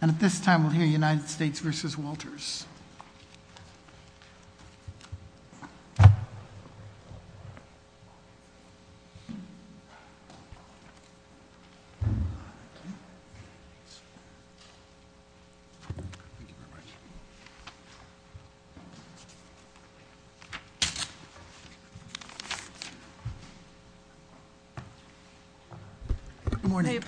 And at this time, we'll hear United States v. Walters. Good morning.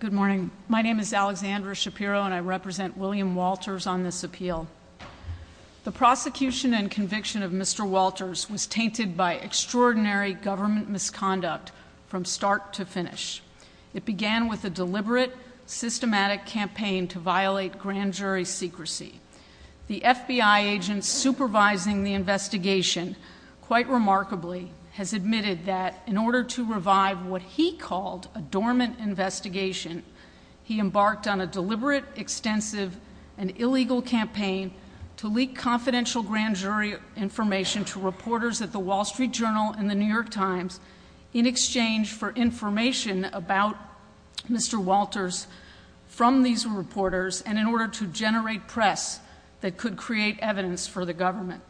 Good morning. My name is Alexandra Shapiro, and I represent William Walters on this appeal. The prosecution and conviction of Mr. Walters was tainted by extraordinary government misconduct from start to finish. It began with a deliberate, systematic campaign to violate grand jury secrecy. The FBI agent supervising the investigation, quite remarkably, has admitted that in order to revive what he called a dormant investigation, he embarked on a deliberate, extensive, and illegal campaign to leak confidential grand jury information to reporters at The Wall Street Journal and The New York Times in exchange for information about Mr. Walters from these reporters and in order to generate press that could create evidence for the government.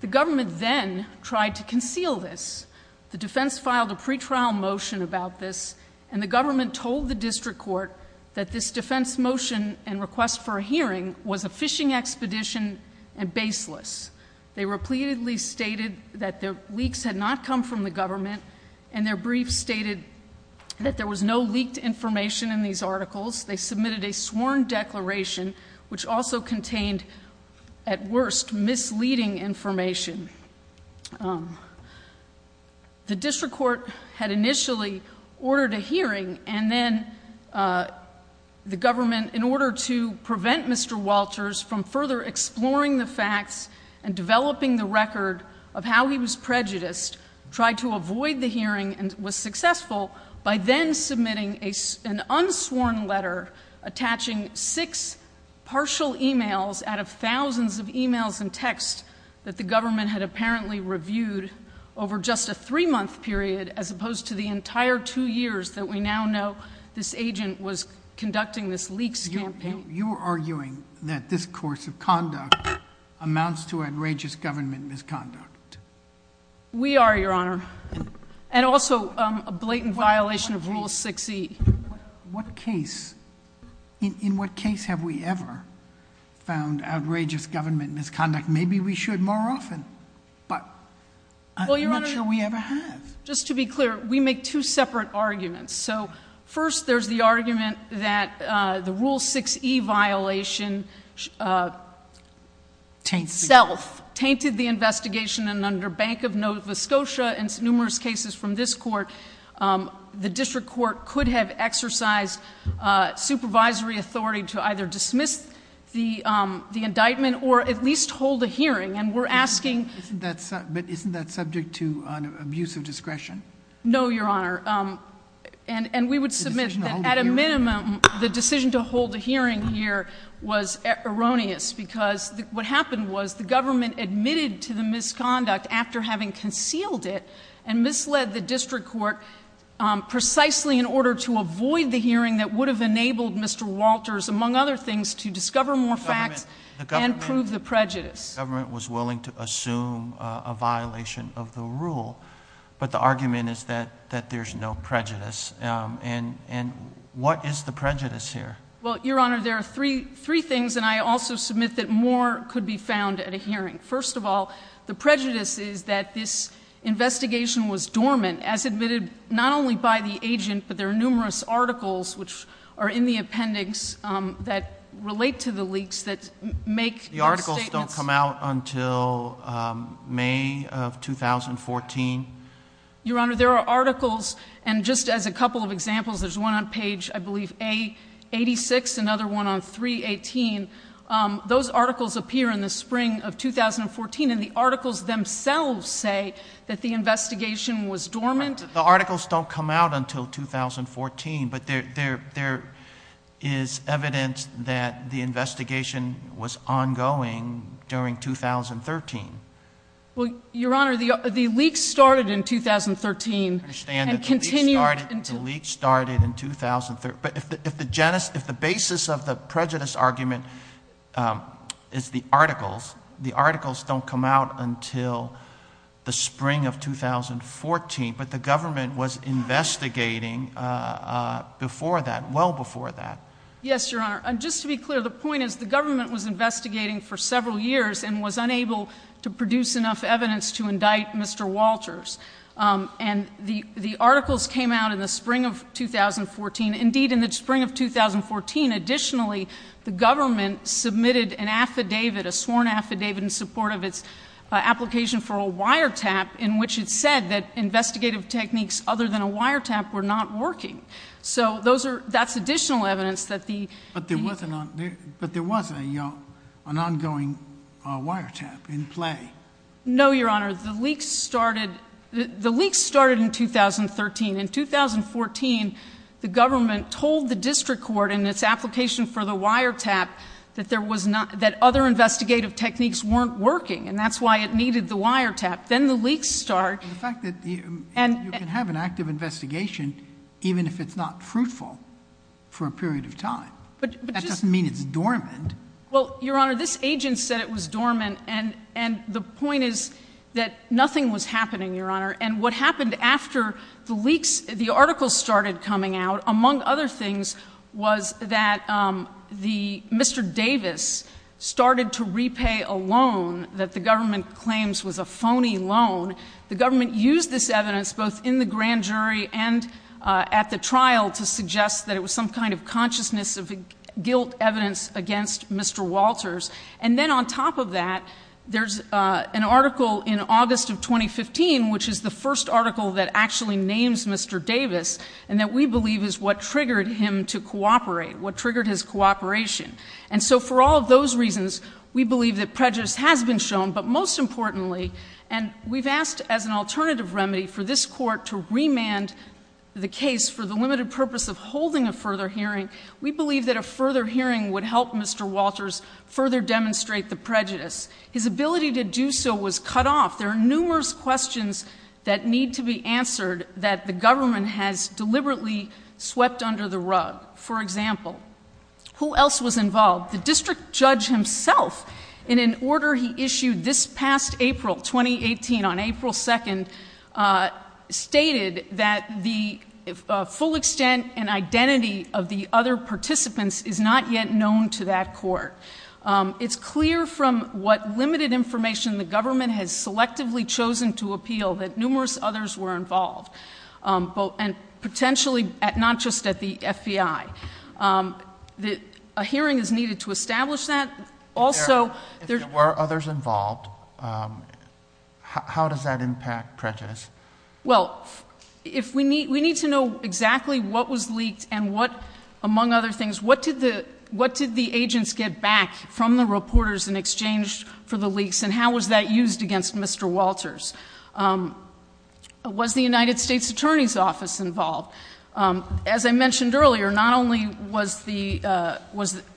The government then tried to conceal this. The defense filed a pretrial motion about this, and the government told the district court that this defense motion and request for a hearing was a phishing expedition and baseless. They repeatedly stated that the leaks had not come from the government, and their briefs stated that there was no leaked information in these articles. They submitted a sworn declaration, which also contained, at worst, misleading information. The district court had initially ordered a hearing, and then the government, in order to prevent Mr. Walters from further exploring the facts and developing the record of how he was prejudiced, tried to avoid the hearing and was successful by then submitting an unsworn letter attaching six partial emails out of thousands of emails and texts that the government had apparently reviewed over just a three-month period as opposed to the entire two years that we now know this agent was conducting this leaks campaign. You're arguing that this course of conduct amounts to outrageous government misconduct. We are, Your Honor, and also a blatant violation of Rule 6E. What case, in what case have we ever found outrageous government misconduct? Maybe we should more often, but I'm not sure we ever have. Well, Your Honor, just to be clear, we make two separate arguments. So first, there's the argument that the Rule 6E violation itself tainted the investigation, and under Bank of Nova Scotia and numerous cases from this court, the district court could have exercised supervisory authority to either dismiss the indictment or at least hold a hearing, and we're asking— But isn't that subject to an abuse of discretion? No, Your Honor, and we would submit that at a minimum, the decision to hold a hearing here was erroneous because what happened was the government admitted to the misconduct after having concealed it and misled the district court precisely in order to avoid the hearing that would have enabled Mr. Walters, among other things, to discover more facts and prove the prejudice. The government was willing to assume a violation of the rule, but the argument is that there's no prejudice. And what is the prejudice here? Well, Your Honor, there are three things, and I also submit that more could be found at a hearing. First of all, the prejudice is that this investigation was dormant, as admitted not only by the agent, but there are numerous articles which are in the appendix that relate to the leaks that make these statements— The articles don't come out until May of 2014? Your Honor, there are articles, and just as a couple of examples, there's one on page, I believe, A86, another one on 318. Those articles appear in the spring of 2014, and the articles themselves say that the investigation was dormant. The articles don't come out until 2014, but there is evidence that the investigation was ongoing during 2013. Well, Your Honor, the leaks started in 2013— I understand that the leaks started in 2013, but if the basis of the prejudice argument is the articles, the articles don't come out until the spring of 2014, but the government was investigating before that, well before that. Yes, Your Honor, and just to be clear, the point is the government was investigating for several years and was unable to produce enough evidence to indict Mr. Walters. And the articles came out in the spring of 2014. Indeed, in the spring of 2014, additionally, the government submitted an affidavit, a sworn affidavit, in support of its application for a wiretap in which it said that investigative techniques other than a wiretap were not working. So that's additional evidence that the— But there was an ongoing wiretap in play. No, Your Honor. The leaks started in 2013. In 2014, the government told the district court in its application for the wiretap that there was not— that other investigative techniques weren't working, and that's why it needed the wiretap. Then the leaks started— And the fact that you can have an active investigation even if it's not fruitful for a period of time. That doesn't mean it's dormant. Well, Your Honor, this agent said it was dormant, and the point is that nothing was happening, Your Honor. And what happened after the leaks, the articles started coming out, among other things, was that Mr. Davis started to repay a loan that the government claims was a phony loan. The government used this evidence, both in the grand jury and at the trial, to suggest that it was some kind of consciousness of guilt evidence against Mr. Walters. And then on top of that, there's an article in August of 2015, which is the first article that actually names Mr. Davis and that we believe is what triggered him to cooperate, what triggered his cooperation. And so for all of those reasons, we believe that prejudice has been shown. But most importantly, and we've asked as an alternative remedy for this Court to remand the case for the limited purpose of holding a further hearing, we believe that a further hearing would help Mr. Walters further demonstrate the prejudice. His ability to do so was cut off. There are numerous questions that need to be answered that the government has deliberately swept under the rug. For example, who else was involved? The district judge himself, in an order he issued this past April, 2018, on April 2nd, stated that the full extent and identity of the other participants is not yet known to that court. It's clear from what limited information the government has selectively chosen to appeal that numerous others were involved, and potentially not just at the FBI. A hearing is needed to establish that. If there were others involved, how does that impact prejudice? Well, we need to know exactly what was leaked and what, among other things, what did the agents get back from the reporters in exchange for the leaks, and how was that used against Mr. Walters? Was the United States Attorney's Office involved? As I mentioned earlier, not only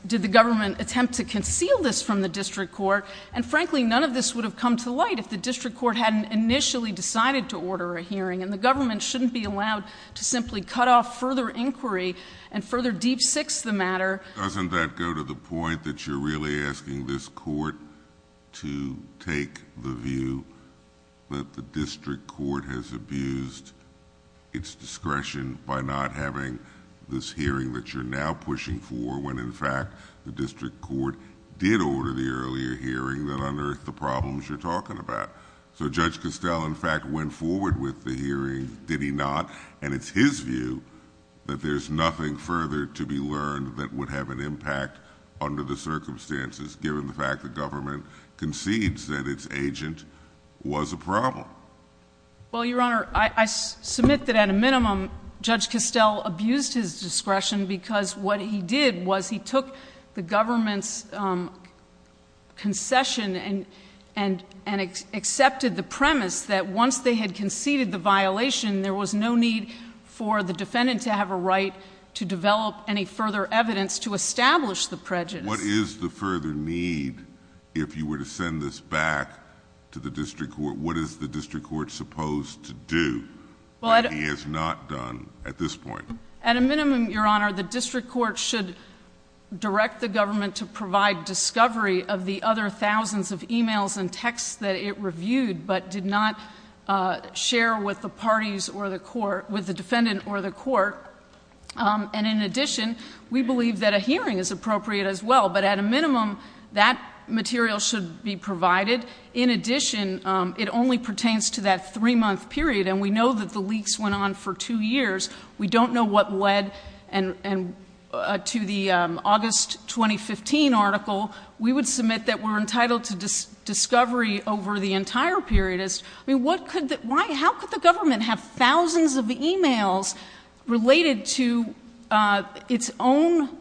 did the government attempt to conceal this from the district court, and frankly, none of this would have come to light if the district court hadn't initially decided to order a hearing, and the government shouldn't be allowed to simply cut off further inquiry and further deep-six the matter. Doesn't that go to the point that you're really asking this court to take the view that the district court has abused its discretion by not having this hearing that you're now pushing for, when in fact the district court did order the earlier hearing that unearthed the problems you're talking about? Judge Costell, in fact, went forward with the hearing, did he not? It's his view that there's nothing further to be learned that would have an impact under the circumstances, given the fact that government concedes that its agent was a problem. Well, Your Honor, I submit that at a minimum, Judge Costell abused his discretion because what he did was he took the government's concession and accepted the premise that once they had conceded the violation, there was no need for the defendant to have a right to develop any further evidence to establish the prejudice. What is the further need if you were to send this back to the district court? What is the district court supposed to do that he has not done at this point? At a minimum, Your Honor, the district court should direct the government to provide discovery of the other thousands of e-mails and texts that it reviewed, but did not share with the parties or the defendant or the court. And in addition, we believe that a hearing is appropriate as well, but at a minimum, that material should be provided. In addition, it only pertains to that three-month period, and we know that the leaks went on for two years. We don't know what led to the August 2015 article. We would submit that we're entitled to discovery over the entire period. I mean, how could the government have thousands of e-mails related to its own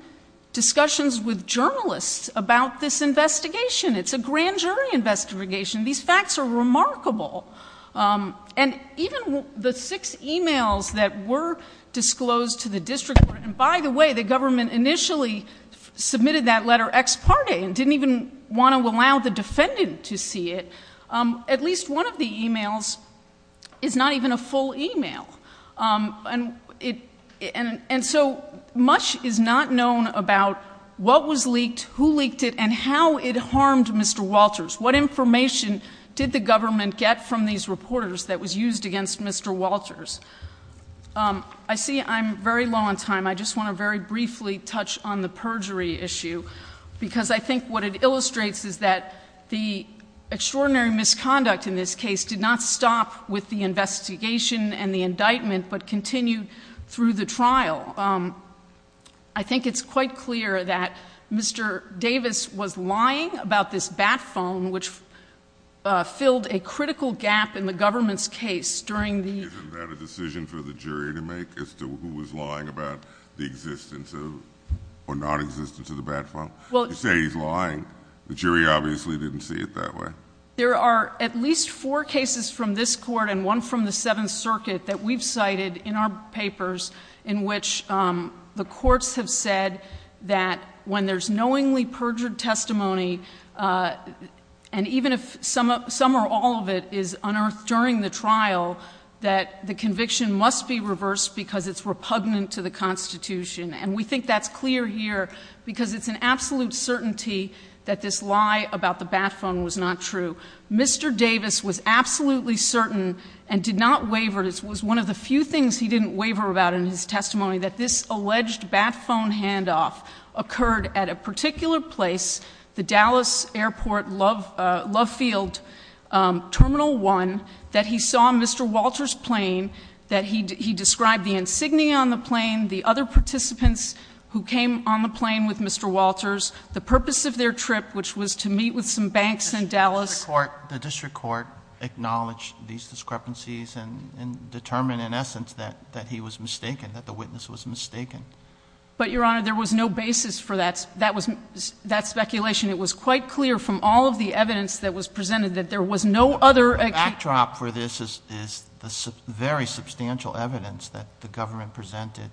discussions with journalists about this investigation? It's a grand jury investigation. These facts are remarkable. And even the six e-mails that were disclosed to the district court and, by the way, the government initially submitted that letter ex parte and didn't even want to allow the defendant to see it, at least one of the e-mails is not even a full e-mail. And so much is not known about what was leaked, who leaked it, and how it harmed Mr. Walters. What information did the government get from these reporters that was used against Mr. Walters? I see I'm very low on time. I just want to very briefly touch on the perjury issue, because I think what it illustrates is that the extraordinary misconduct in this case did not stop with the investigation and the indictment, but continued through the trial. I think it's quite clear that Mr. Davis was lying about this bat phone, which filled a critical gap in the government's case during the ---- You say he's lying. The jury obviously didn't see it that way. There are at least four cases from this court and one from the Seventh Circuit that we've cited in our papers in which the courts have said that when there's knowingly perjured testimony, and even if some or all of it is unearthed during the trial, that the conviction must be reversed because it's repugnant to the Constitution. And we think that's clear here because it's an absolute certainty that this lie about the bat phone was not true. Mr. Davis was absolutely certain and did not waver. It was one of the few things he didn't waver about in his testimony, that this alleged bat phone handoff occurred at a particular place, the Dallas Airport Love Field Terminal 1, that he saw Mr. Walters' plane, that he described the insignia on the plane, the other participants who came on the plane with Mr. Walters, the purpose of their trip, which was to meet with some banks in Dallas. The district court acknowledged these discrepancies and determined in essence that he was mistaken, that the witness was mistaken. But, Your Honor, there was no basis for that speculation. It was quite clear from all of the evidence that was presented that there was no other ---- The backdrop for this is the very substantial evidence that the government presented,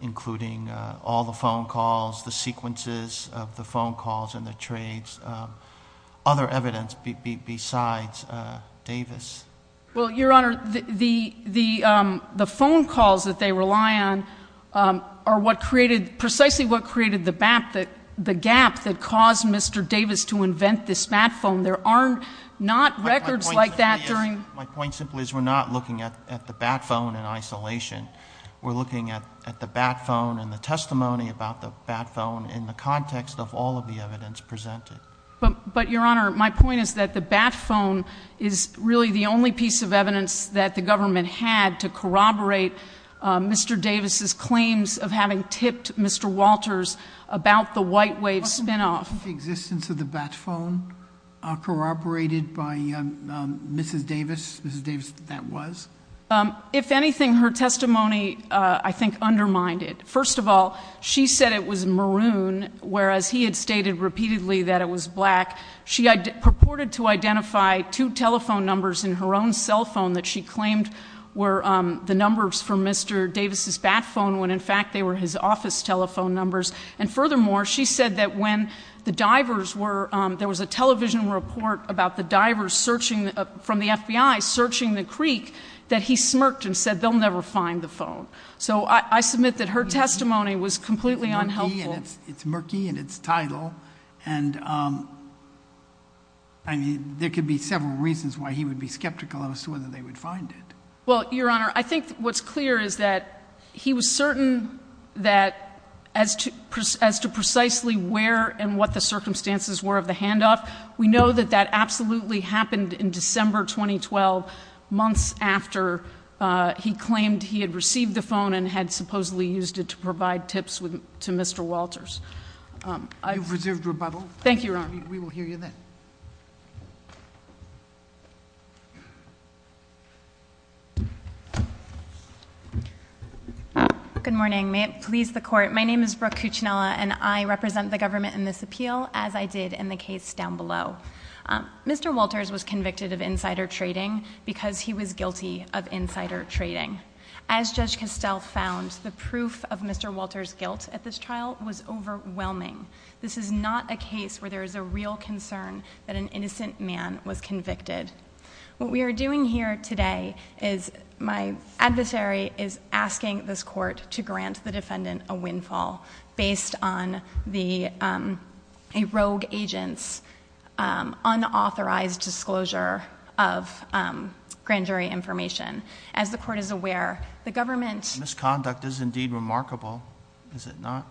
including all the phone calls, the sequences of the phone calls and the trades, other evidence besides Davis. Well, Your Honor, the phone calls that they rely on are what created, precisely what created the gap that caused Mr. Davis to invent this bat phone. There are not records like that during ---- My point simply is we're not looking at the bat phone in isolation. We're looking at the bat phone and the testimony about the bat phone in the context of all of the evidence presented. But, Your Honor, my point is that the bat phone is really the only piece of evidence that the government had to corroborate Mr. Davis' claims of having tipped Mr. Walters about the white wave spinoff. Was the spinoff of the existence of the bat phone corroborated by Mrs. Davis? Mrs. Davis, that was? If anything, her testimony, I think, undermined it. First of all, she said it was maroon, whereas he had stated repeatedly that it was black. She purported to identify two telephone numbers in her own cell phone that she claimed were the numbers for Mr. Davis' bat phone, when, in fact, they were his office telephone numbers. And furthermore, she said that when the divers were, there was a television report about the divers searching, from the FBI, searching the creek, that he smirked and said they'll never find the phone. So I submit that her testimony was completely unhelpful. It's murky and it's tidal. And, I mean, there could be several reasons why he would be skeptical as to whether they would find it. Well, Your Honor, I think what's clear is that he was certain that as to precisely where and what the circumstances were of the handoff, we know that that absolutely happened in December 2012, months after he claimed he had received the phone and had supposedly used it to provide tips to Mr. Walters. You've reserved rebuttal. Thank you, Your Honor. We will hear you then. Good morning. May it please the Court. My name is Brooke Cuccinella, and I represent the government in this appeal, as I did in the case down below. Mr. Walters was convicted of insider trading because he was guilty of insider trading. As Judge Castell found, the proof of Mr. Walters' guilt at this trial was overwhelming. This is not a case where there is a real concern that an innocent man was convicted. What we are doing here today is my adversary is asking this Court to grant the defendant a windfall based on a rogue agent's unauthorized disclosure of grand jury information. As the Court is aware, the government— The misconduct is indeed remarkable, is it not?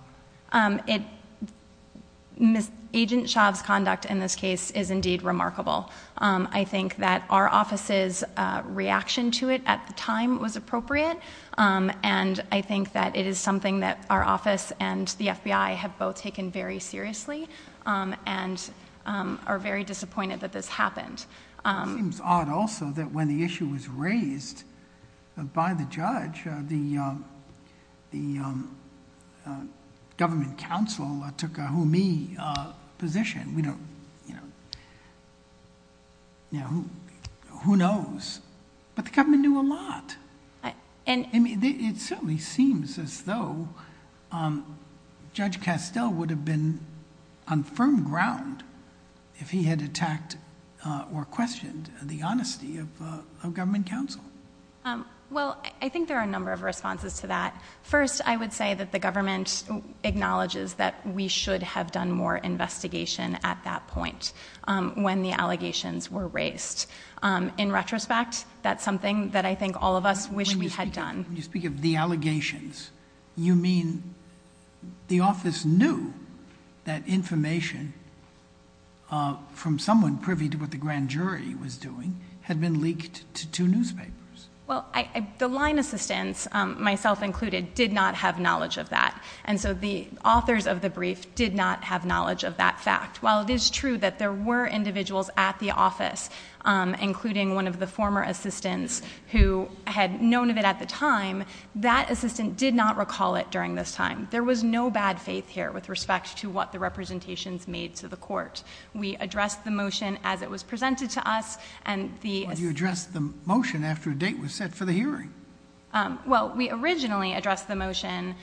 Agent Shav's conduct in this case is indeed remarkable. I think that our office's reaction to it at the time was appropriate, and I think that it is something that our office and the FBI have both taken very seriously and are very disappointed that this happened. It seems odd also that when the issue was raised by the judge, the government counsel took a who-me position. Who knows? But the government knew a lot. It certainly seems as though Judge Castell would have been on firm ground if he had attacked or questioned the honesty of government counsel. Well, I think there are a number of responses to that. First, I would say that the government acknowledges that we should have done more investigation at that point when the allegations were raised. In retrospect, that's something that I think all of us wish we had done. When you speak of the allegations, you mean the office knew that information from someone privy to what the grand jury was doing had been leaked to two newspapers? Well, the line assistants, myself included, did not have knowledge of that. And so the authors of the brief did not have knowledge of that fact. While it is true that there were individuals at the office, including one of the former assistants who had known of it at the time, that assistant did not recall it during this time. There was no bad faith here with respect to what the representations made to the court. We addressed the motion as it was presented to us. You addressed the motion after a date was set for the hearing. Well, we originally addressed the motion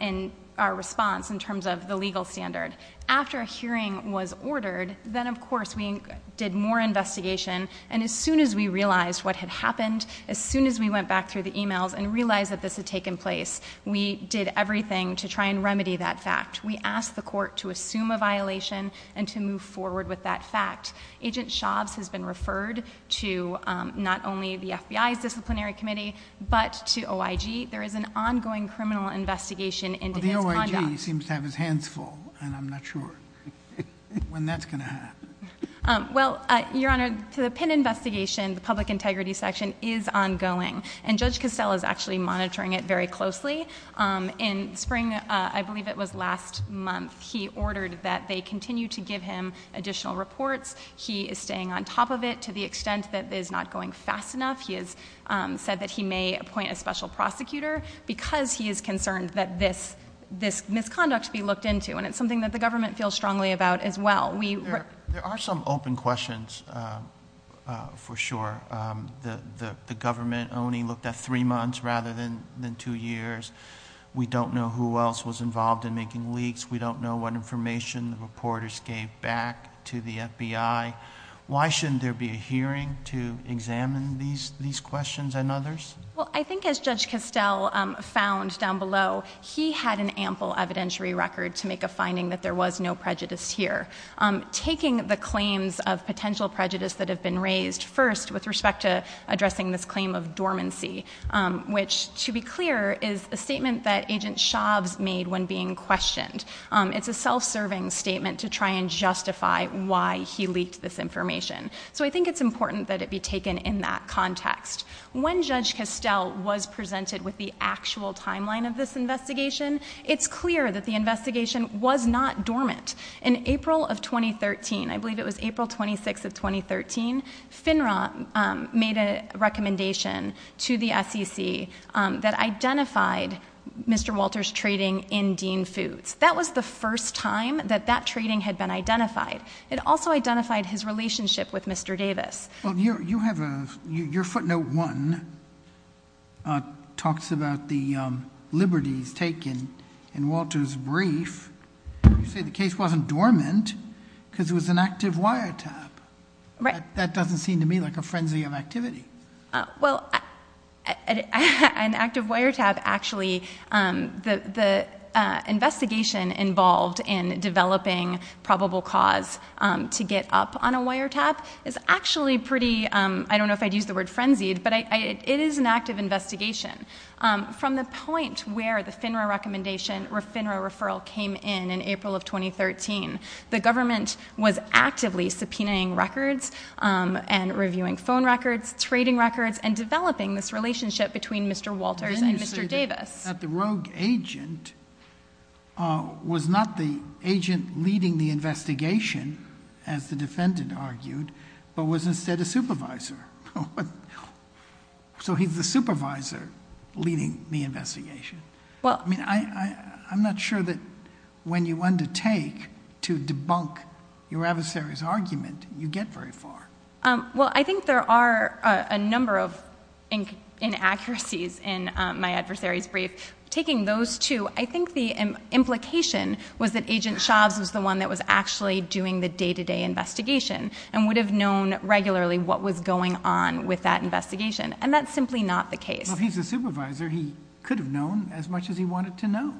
in our response in terms of the legal standard. After a hearing was ordered, then, of course, we did more investigation. And as soon as we realized what had happened, as soon as we went back through the e-mails and realized that this had taken place, we did everything to try and remedy that fact. We asked the court to assume a violation and to move forward with that fact. Agent Shobbs has been referred to not only the FBI's disciplinary committee, but to OIG. There is an ongoing criminal investigation into his conduct. Well, the OIG seems to have his hands full, and I'm not sure when that's going to happen. Well, Your Honor, the PIN investigation, the public integrity section, is ongoing. And Judge Costello is actually monitoring it very closely. In spring, I believe it was last month, he ordered that they continue to give him additional reports. He is staying on top of it to the extent that it is not going fast enough. He has said that he may appoint a special prosecutor because he is concerned that this misconduct be looked into. And it's something that the government feels strongly about as well. There are some open questions, for sure. The government only looked at three months rather than two years. We don't know who else was involved in making leaks. We don't know what information the reporters gave back to the FBI. Why shouldn't there be a hearing to examine these questions and others? Well, I think as Judge Costello found down below, he had an ample evidentiary record to make a finding that there was no prejudice here. Taking the claims of potential prejudice that have been raised, first, with respect to addressing this claim of dormancy, which, to be clear, is a statement that Agent Shobbs made when being questioned. It's a self-serving statement to try and justify why he leaked this information. So I think it's important that it be taken in that context. When Judge Costello was presented with the actual timeline of this investigation, it's clear that the investigation was not dormant. In April of 2013, I believe it was April 26th of 2013, FINRA made a recommendation to the SEC that identified Mr. Walter's trading in Dean Foods. That was the first time that that trading had been identified. It also identified his relationship with Mr. Davis. Well, your footnote one talks about the liberties taken in Walter's brief. You say the case wasn't dormant because it was an active wiretap. That doesn't seem to me like a frenzy of activity. Well, an active wiretap actually, the investigation involved in developing probable cause to get up on a wiretap is actually pretty, I don't know if I'd use the word frenzied, but it is an active investigation. From the point where the FINRA recommendation or FINRA referral came in in April of 2013, the government was actively subpoenaing records and reviewing phone records, trading records, and developing this relationship between Mr. Walters and Mr. Davis. Then you say that the rogue agent was not the agent leading the investigation, as the defendant argued, but was instead a supervisor. So he's the supervisor leading the investigation. I'm not sure that when you undertake to debunk your adversary's argument, you get very far. Well, I think there are a number of inaccuracies in my adversary's brief. Taking those two, I think the implication was that Agent Shobbs was the one that was actually doing the day-to-day investigation and would have known regularly what was going on with that investigation, and that's simply not the case. Well, if he's the supervisor, he could have known as much as he wanted to know.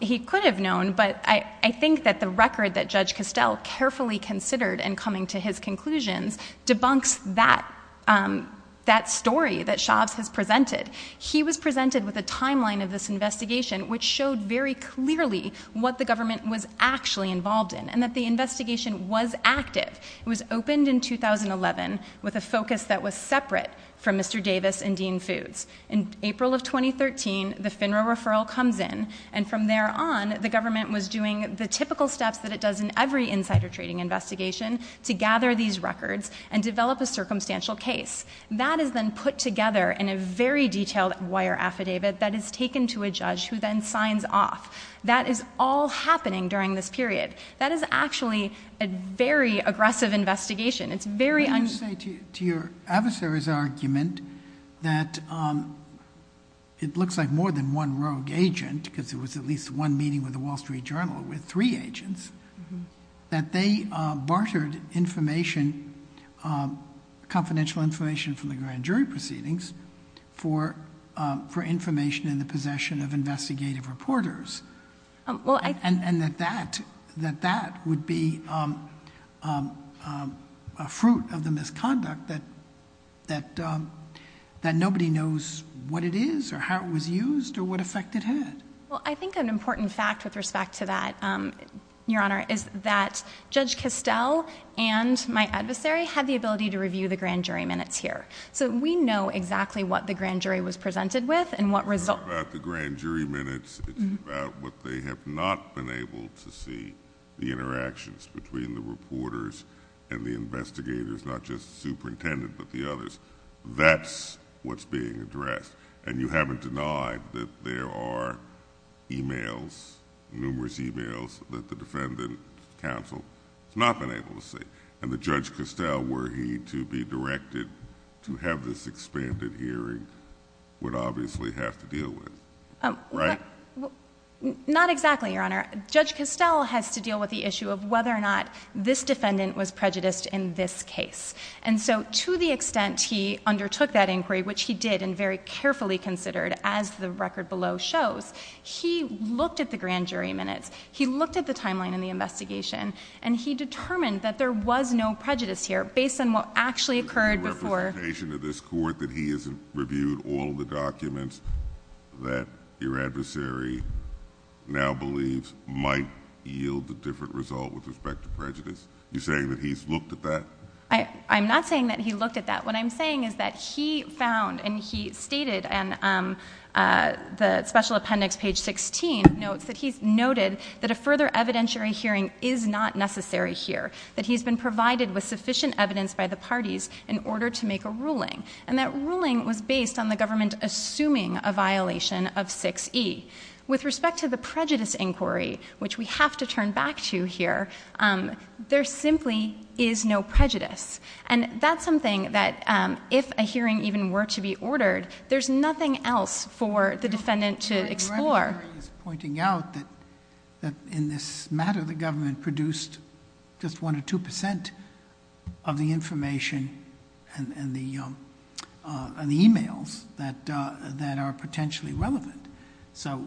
He could have known, but I think that the record that Judge Costell carefully considered in coming to his conclusions debunks that story that Shobbs has presented. He was presented with a timeline of this investigation, which showed very clearly what the government was actually involved in and that the investigation was active. It was opened in 2011 with a focus that was separate from Mr. Davis and Dean Foods. In April of 2013, the FINRA referral comes in, and from there on, the government was doing the typical steps that it does in every insider trading investigation to gather these records and develop a circumstantial case. That is then put together in a very detailed wire affidavit that is taken to a judge who then signs off. That is all happening during this period. That is actually a very aggressive investigation. It's very un- I'm going to say to your adversary's argument that it looks like more than one rogue agent, because there was at least one meeting with the Wall Street Journal with three agents, that they bartered confidential information from the grand jury proceedings for information in the possession of investigative reporters. And that that would be a fruit of the misconduct that nobody knows what it is or how it was used or what effect it had. Well, I think an important fact with respect to that, Your Honor, is that Judge Castell and my adversary had the ability to review the grand jury minutes here. So we know exactly what the grand jury was presented with and what results- It's not about the grand jury minutes. It's about what they have not been able to see, the interactions between the reporters and the investigators, not just the superintendent but the others. That's what's being addressed. And you haven't denied that there are emails, numerous emails, that the defendant counsel has not been able to see. And that Judge Castell, were he to be directed to have this expanded hearing, would obviously have to deal with it, right? Not exactly, Your Honor. Judge Castell has to deal with the issue of whether or not this defendant was prejudiced in this case. And so to the extent he undertook that inquiry, which he did and very carefully considered, as the record below shows, he looked at the grand jury minutes, he looked at the timeline in the investigation, and he determined that there was no prejudice here based on what actually occurred before- Is there any representation to this court that he has reviewed all of the documents that your adversary now believes might yield a different result with respect to prejudice? You're saying that he's looked at that? I'm not saying that he looked at that. What I'm saying is that he found and he stated in the special appendix, page 16, notes that he's noted that a further evidentiary hearing is not necessary here, that he's been provided with sufficient evidence by the parties in order to make a ruling, and that ruling was based on the government assuming a violation of 6E. With respect to the prejudice inquiry, which we have to turn back to here, there simply is no prejudice. And that's something that if a hearing even were to be ordered, there's nothing else for the defendant to explore. Your adversary is pointing out that in this matter, the government produced just 1% or 2% of the information and the e-mails that are potentially relevant. So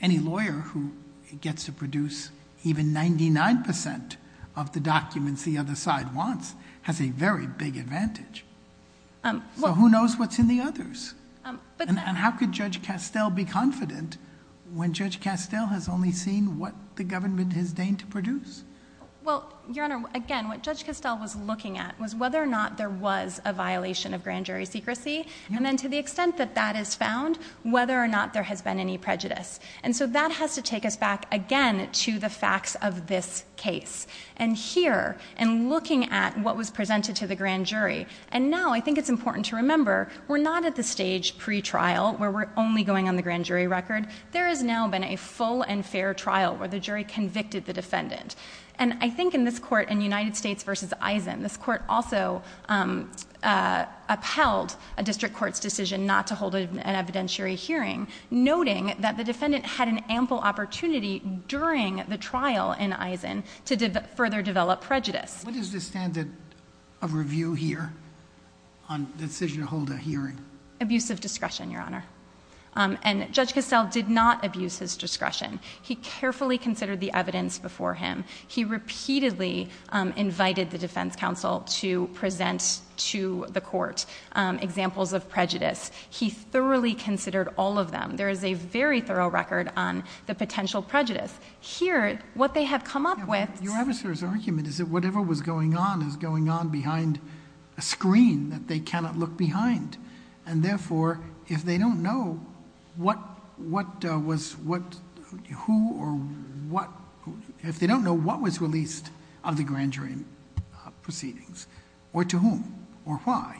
any lawyer who gets to produce even 99% of the documents the other side wants has a very big advantage. So who knows what's in the others? And how could Judge Castell be confident when Judge Castell has only seen what the government has deigned to produce? Well, Your Honor, again, what Judge Castell was looking at was whether or not there was a violation of grand jury secrecy and then to the extent that that is found, whether or not there has been any prejudice. And so that has to take us back again to the facts of this case. And here, in looking at what was presented to the grand jury, and now I think it's important to remember we're not at the stage pre-trial where we're only going on the grand jury record. There has now been a full and fair trial where the jury convicted the defendant. And I think in this court, in United States v. Eisen, this court also upheld a district court's decision not to hold an evidentiary hearing noting that the defendant had an ample opportunity during the trial in Eisen to further develop prejudice. What is the standard of review here on decision to hold a hearing? Abusive discretion, Your Honor. And Judge Castell did not abuse his discretion. He carefully considered the evidence before him. He repeatedly invited the defense counsel to present to the court examples of prejudice. He thoroughly considered all of them. There is a very thorough record on the potential prejudice. Here, what they have come up with... But your adversary's argument is that whatever was going on is going on behind a screen that they cannot look behind. And therefore, if they don't know what was released of the grand jury proceedings, or to whom, or why,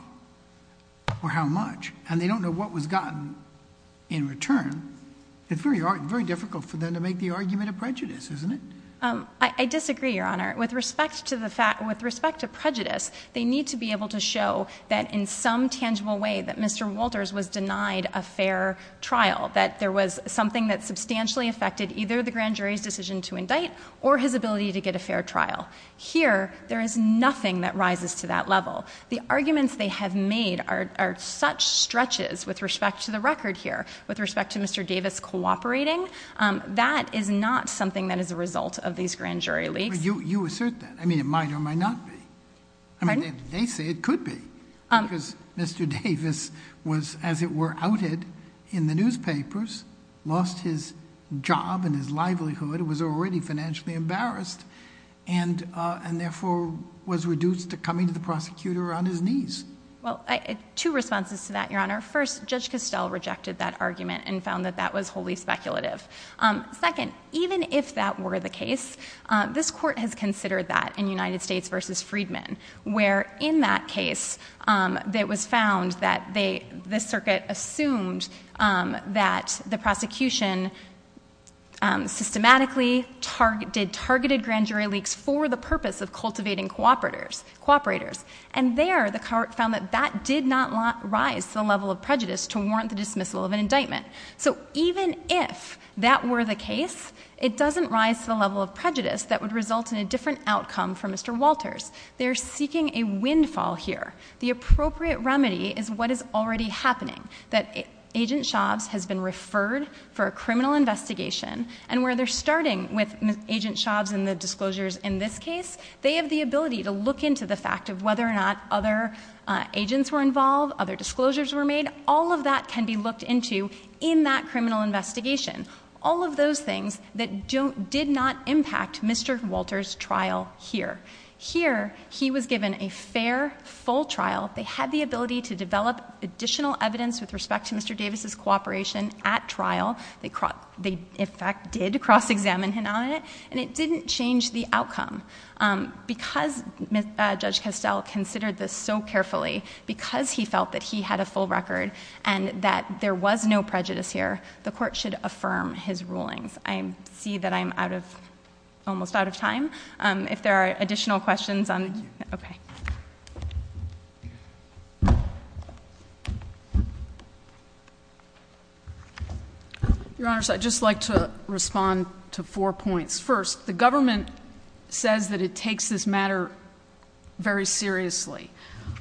or how much, and they don't know what was gotten in return, it's very difficult for them to make the argument of prejudice, isn't it? I disagree, Your Honor. With respect to prejudice, they need to be able to show that in some tangible way that Mr. Walters was denied a fair trial, that there was something that substantially affected either the grand jury's decision to indict or his ability to get a fair trial. Here, there is nothing that rises to that level. The arguments they have made are such stretches with respect to the record here, with respect to Mr. Davis cooperating. That is not something that is a result of these grand jury leaks. But you assert that. I mean, it might or might not be. Pardon? I mean, they say it could be, because Mr. Davis was, as it were, outed in the newspapers, lost his job and his livelihood, was already financially embarrassed, and therefore was reduced to coming to the prosecutor on his knees. Well, two responses to that, Your Honor. First, Judge Costell rejected that argument and found that that was wholly speculative. Second, even if that were the case, this court has considered that in United States v. Freedman, where in that case it was found that the circuit assumed that the prosecution systematically did targeted grand jury leaks for the purpose of cultivating cooperators. And there, the court found that that did not rise to the level of prejudice to warrant the dismissal of an indictment. So even if that were the case, it doesn't rise to the level of prejudice that would result in a different outcome for Mr. Walters. They're seeking a windfall here. The appropriate remedy is what is already happening, that Agent Shobbs has been referred for a criminal investigation, and where they're starting with Agent Shobbs and the disclosures in this case, they have the ability to look into the fact of whether or not other agents were involved, other disclosures were made. All of that can be looked into in that criminal investigation. All of those things that did not impact Mr. Walters' trial here. Here, he was given a fair, full trial. They had the ability to develop additional evidence with respect to Mr. Davis' cooperation at trial. They, in fact, did cross-examine him on it, and it didn't change the outcome. Because Judge Castell considered this so carefully, because he felt that he had a full record, and that there was no prejudice here, the court should affirm his rulings. I see that I'm out of, almost out of time. If there are additional questions, I'm, okay. Your Honors, I'd just like to respond to four points. First, the government says that it takes this matter very seriously.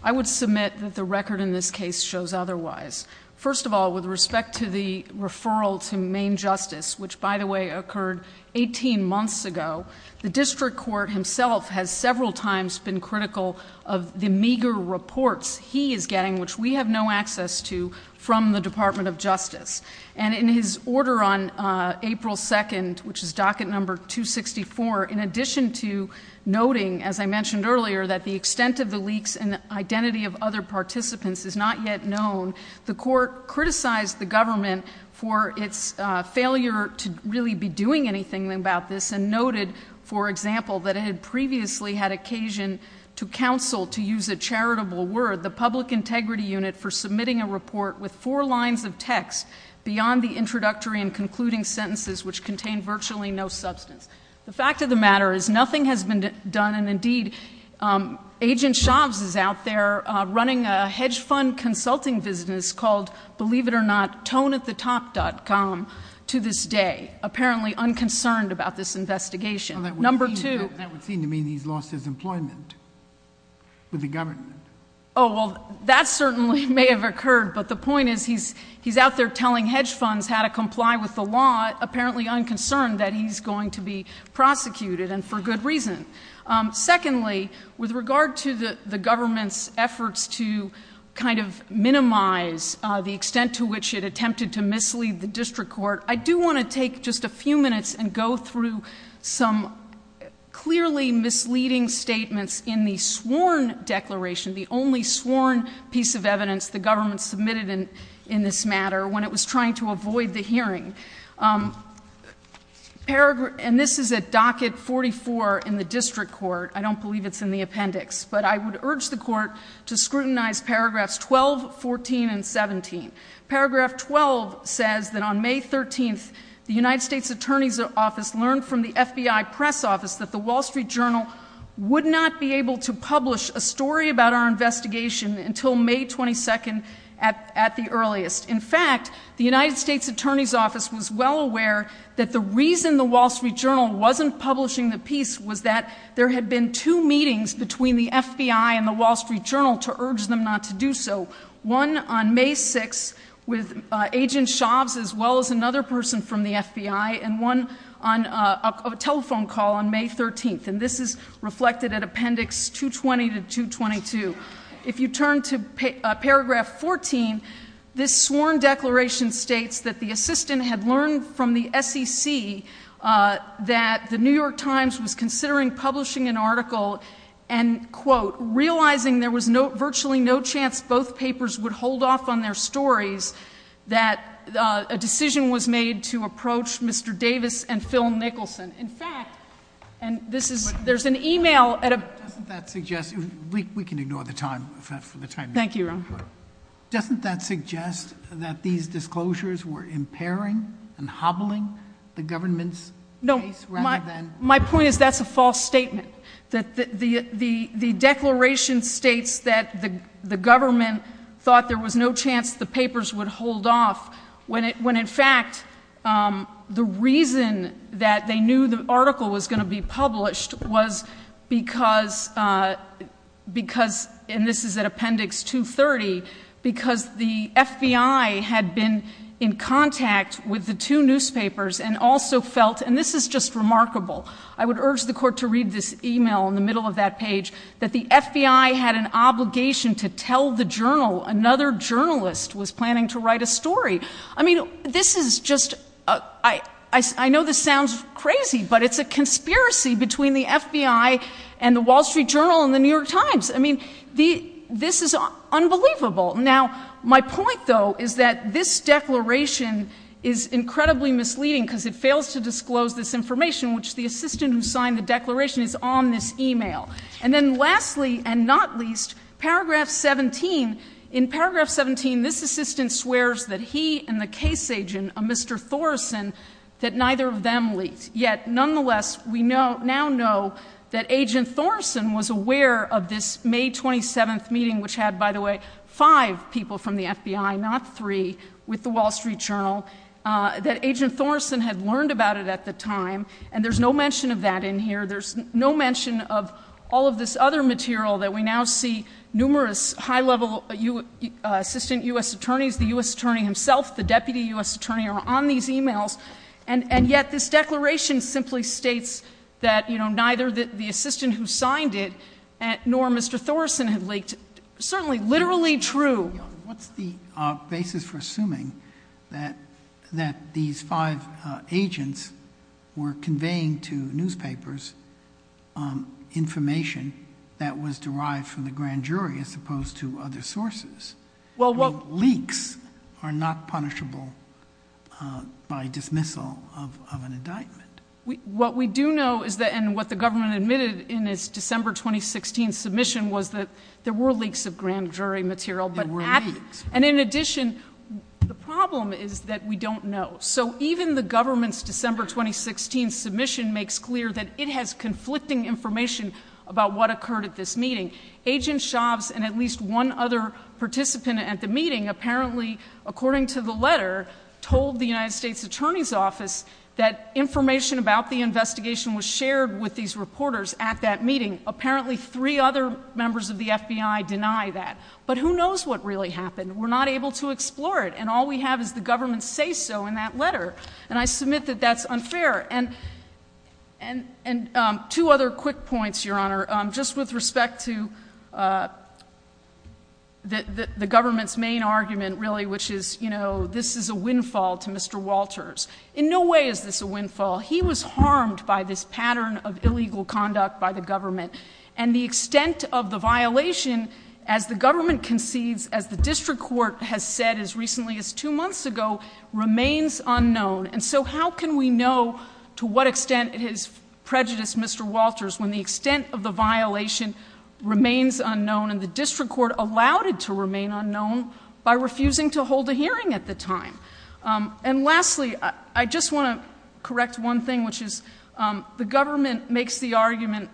I would submit that the record in this case shows otherwise. First of all, with respect to the referral to main justice, which, by the way, occurred 18 months ago, the district court himself has several times been critical of the meager reports he is getting, which we have no access to, from the Department of Justice. And in his order on April 2nd, which is docket number 264, in addition to noting, as I mentioned earlier, that the extent of the leaks and the identity of other participants is not yet known, the court criticized the government for its failure to really be doing anything about this and noted, for example, that it had previously had occasion to counsel, to use a charitable word, the Public Integrity Unit, for submitting a report with four lines of text beyond the introductory and concluding sentences, which contained virtually no substance. The fact of the matter is nothing has been done, and indeed, Agent Shobbs is out there running a hedge fund consulting business called, believe it or not, ToneAtTheTop.com to this day, apparently unconcerned about this investigation. That would seem to mean he's lost his employment with the government. Oh, well, that certainly may have occurred, but the point is he's out there telling hedge funds how to comply with the law, apparently unconcerned that he's going to be prosecuted, and for good reason. Secondly, with regard to the government's efforts to kind of minimize the extent to which it attempted to mislead the district court, I do want to take just a few minutes and go through some clearly misleading statements in the sworn declaration, the only sworn piece of evidence the government submitted in this matter when it was trying to avoid the hearing. And this is at docket 44 in the district court. I don't believe it's in the appendix, but I would urge the court to scrutinize paragraphs 12, 14, and 17. Paragraph 12 says that on May 13th, the United States Attorney's Office learned from the FBI Press Office that the Wall Street Journal would not be able to publish a story about our investigation until May 22nd at the earliest. In fact, the United States Attorney's Office was well aware that the reason the Wall Street Journal wasn't publishing the piece was that there had been two meetings between the FBI and the Wall Street Journal to urge them not to do so. One on May 6th with Agent Shavs, as well as another person from the FBI, and one on a telephone call on May 13th. And this is reflected at appendix 220 to 222. If you turn to paragraph 14, this sworn declaration states that the assistant had learned from the SEC that the New York Times was considering publishing an article and, quote, realizing there was virtually no chance both papers would hold off on their stories, that a decision was made to approach Mr. Davis and Phil Nicholson. In fact, and this is, there's an email at a- Doesn't that suggest, we can ignore the time, for the time being. Thank you, Your Honor. Doesn't that suggest that these disclosures were impairing and hobbling the government's case rather than- The declaration states that the government thought there was no chance the papers would hold off when in fact the reason that they knew the article was going to be published was because, because, and this is at appendix 230, because the FBI had been in contact with the two newspapers and also felt, and this is just remarkable, I would urge the Court to read this email in the middle of that page, that the FBI had an obligation to tell the journal another journalist was planning to write a story. I mean, this is just, I know this sounds crazy, but it's a conspiracy between the FBI and the Wall Street Journal and the New York Times. I mean, this is unbelievable. Now, my point, though, is that this declaration is incredibly misleading because it fails to disclose this information, which the assistant who signed the declaration is on this email. And then lastly, and not least, paragraph 17. In paragraph 17, this assistant swears that he and the case agent, Mr. Thorsen, that neither of them leaked. Yet, nonetheless, we now know that Agent Thorsen was aware of this May 27th meeting, which had, by the way, five people from the FBI, not three, with the Wall Street Journal, that Agent Thorsen had learned about it at the time, and there's no mention of that in here. There's no mention of all of this other material that we now see numerous high-level assistant U.S. attorneys, the U.S. attorney himself, the deputy U.S. attorney, are on these emails. And yet this declaration simply states that, you know, neither the assistant who signed it nor Mr. Thorsen had leaked. It's certainly literally true. What's the basis for assuming that these five agents were conveying to newspapers information that was derived from the grand jury as opposed to other sources? Leaks are not punishable by dismissal of an indictment. What we do know is that, and what the government admitted in its December 2016 submission, was that there were leaks of grand jury material. There were leaks. And in addition, the problem is that we don't know. So even the government's December 2016 submission makes clear that it has conflicting information about what occurred at this meeting. Agent Shavs and at least one other participant at the meeting apparently, according to the letter, told the United States Attorney's Office that information about the investigation was shared with these reporters at that meeting. Apparently three other members of the FBI deny that. But who knows what really happened? We're not able to explore it, and all we have is the government's say-so in that letter. And I submit that that's unfair. And two other quick points, Your Honor, just with respect to the government's main argument, really, which is, you know, this is a windfall to Mr. Walters. In no way is this a windfall. He was harmed by this pattern of illegal conduct by the government. And the extent of the violation, as the government concedes, as the district court has said as recently as two months ago, remains unknown. And so how can we know to what extent it has prejudiced Mr. Walters when the extent of the violation remains unknown, and the district court allowed it to remain unknown by refusing to hold a hearing at the time? And lastly, I just want to correct one thing, which is the government makes the argument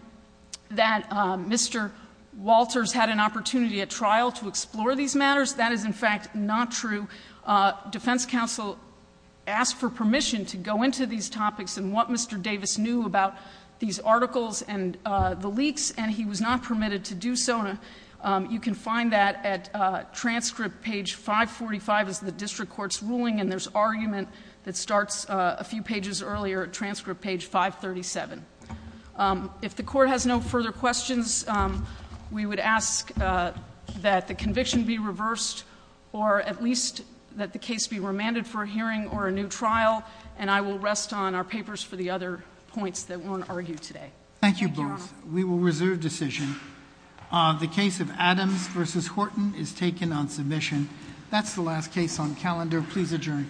that Mr. Walters had an opportunity at trial to explore these matters. That is, in fact, not true. Defense counsel asked for permission to go into these topics and what Mr. Davis knew about these articles and the leaks, and he was not permitted to do so. So I just want to make sure that I'm clear on that. Thank you. Thank you, Your Honor. You can find that at transcript page 545 is the district court's ruling, and there's argument that starts a few pages earlier, transcript page 537. If the Court has no further questions, we would ask that the conviction be reversed or at least that the case be remanded for a hearing or a new trial, and I will rest on our papers for the other points that weren't argued today. Thank you, Your Honor. Thank you both. We will reserve decision. The case of Adams v. Horton is taken on submission. That's the last case on calendar. Please adjourn court.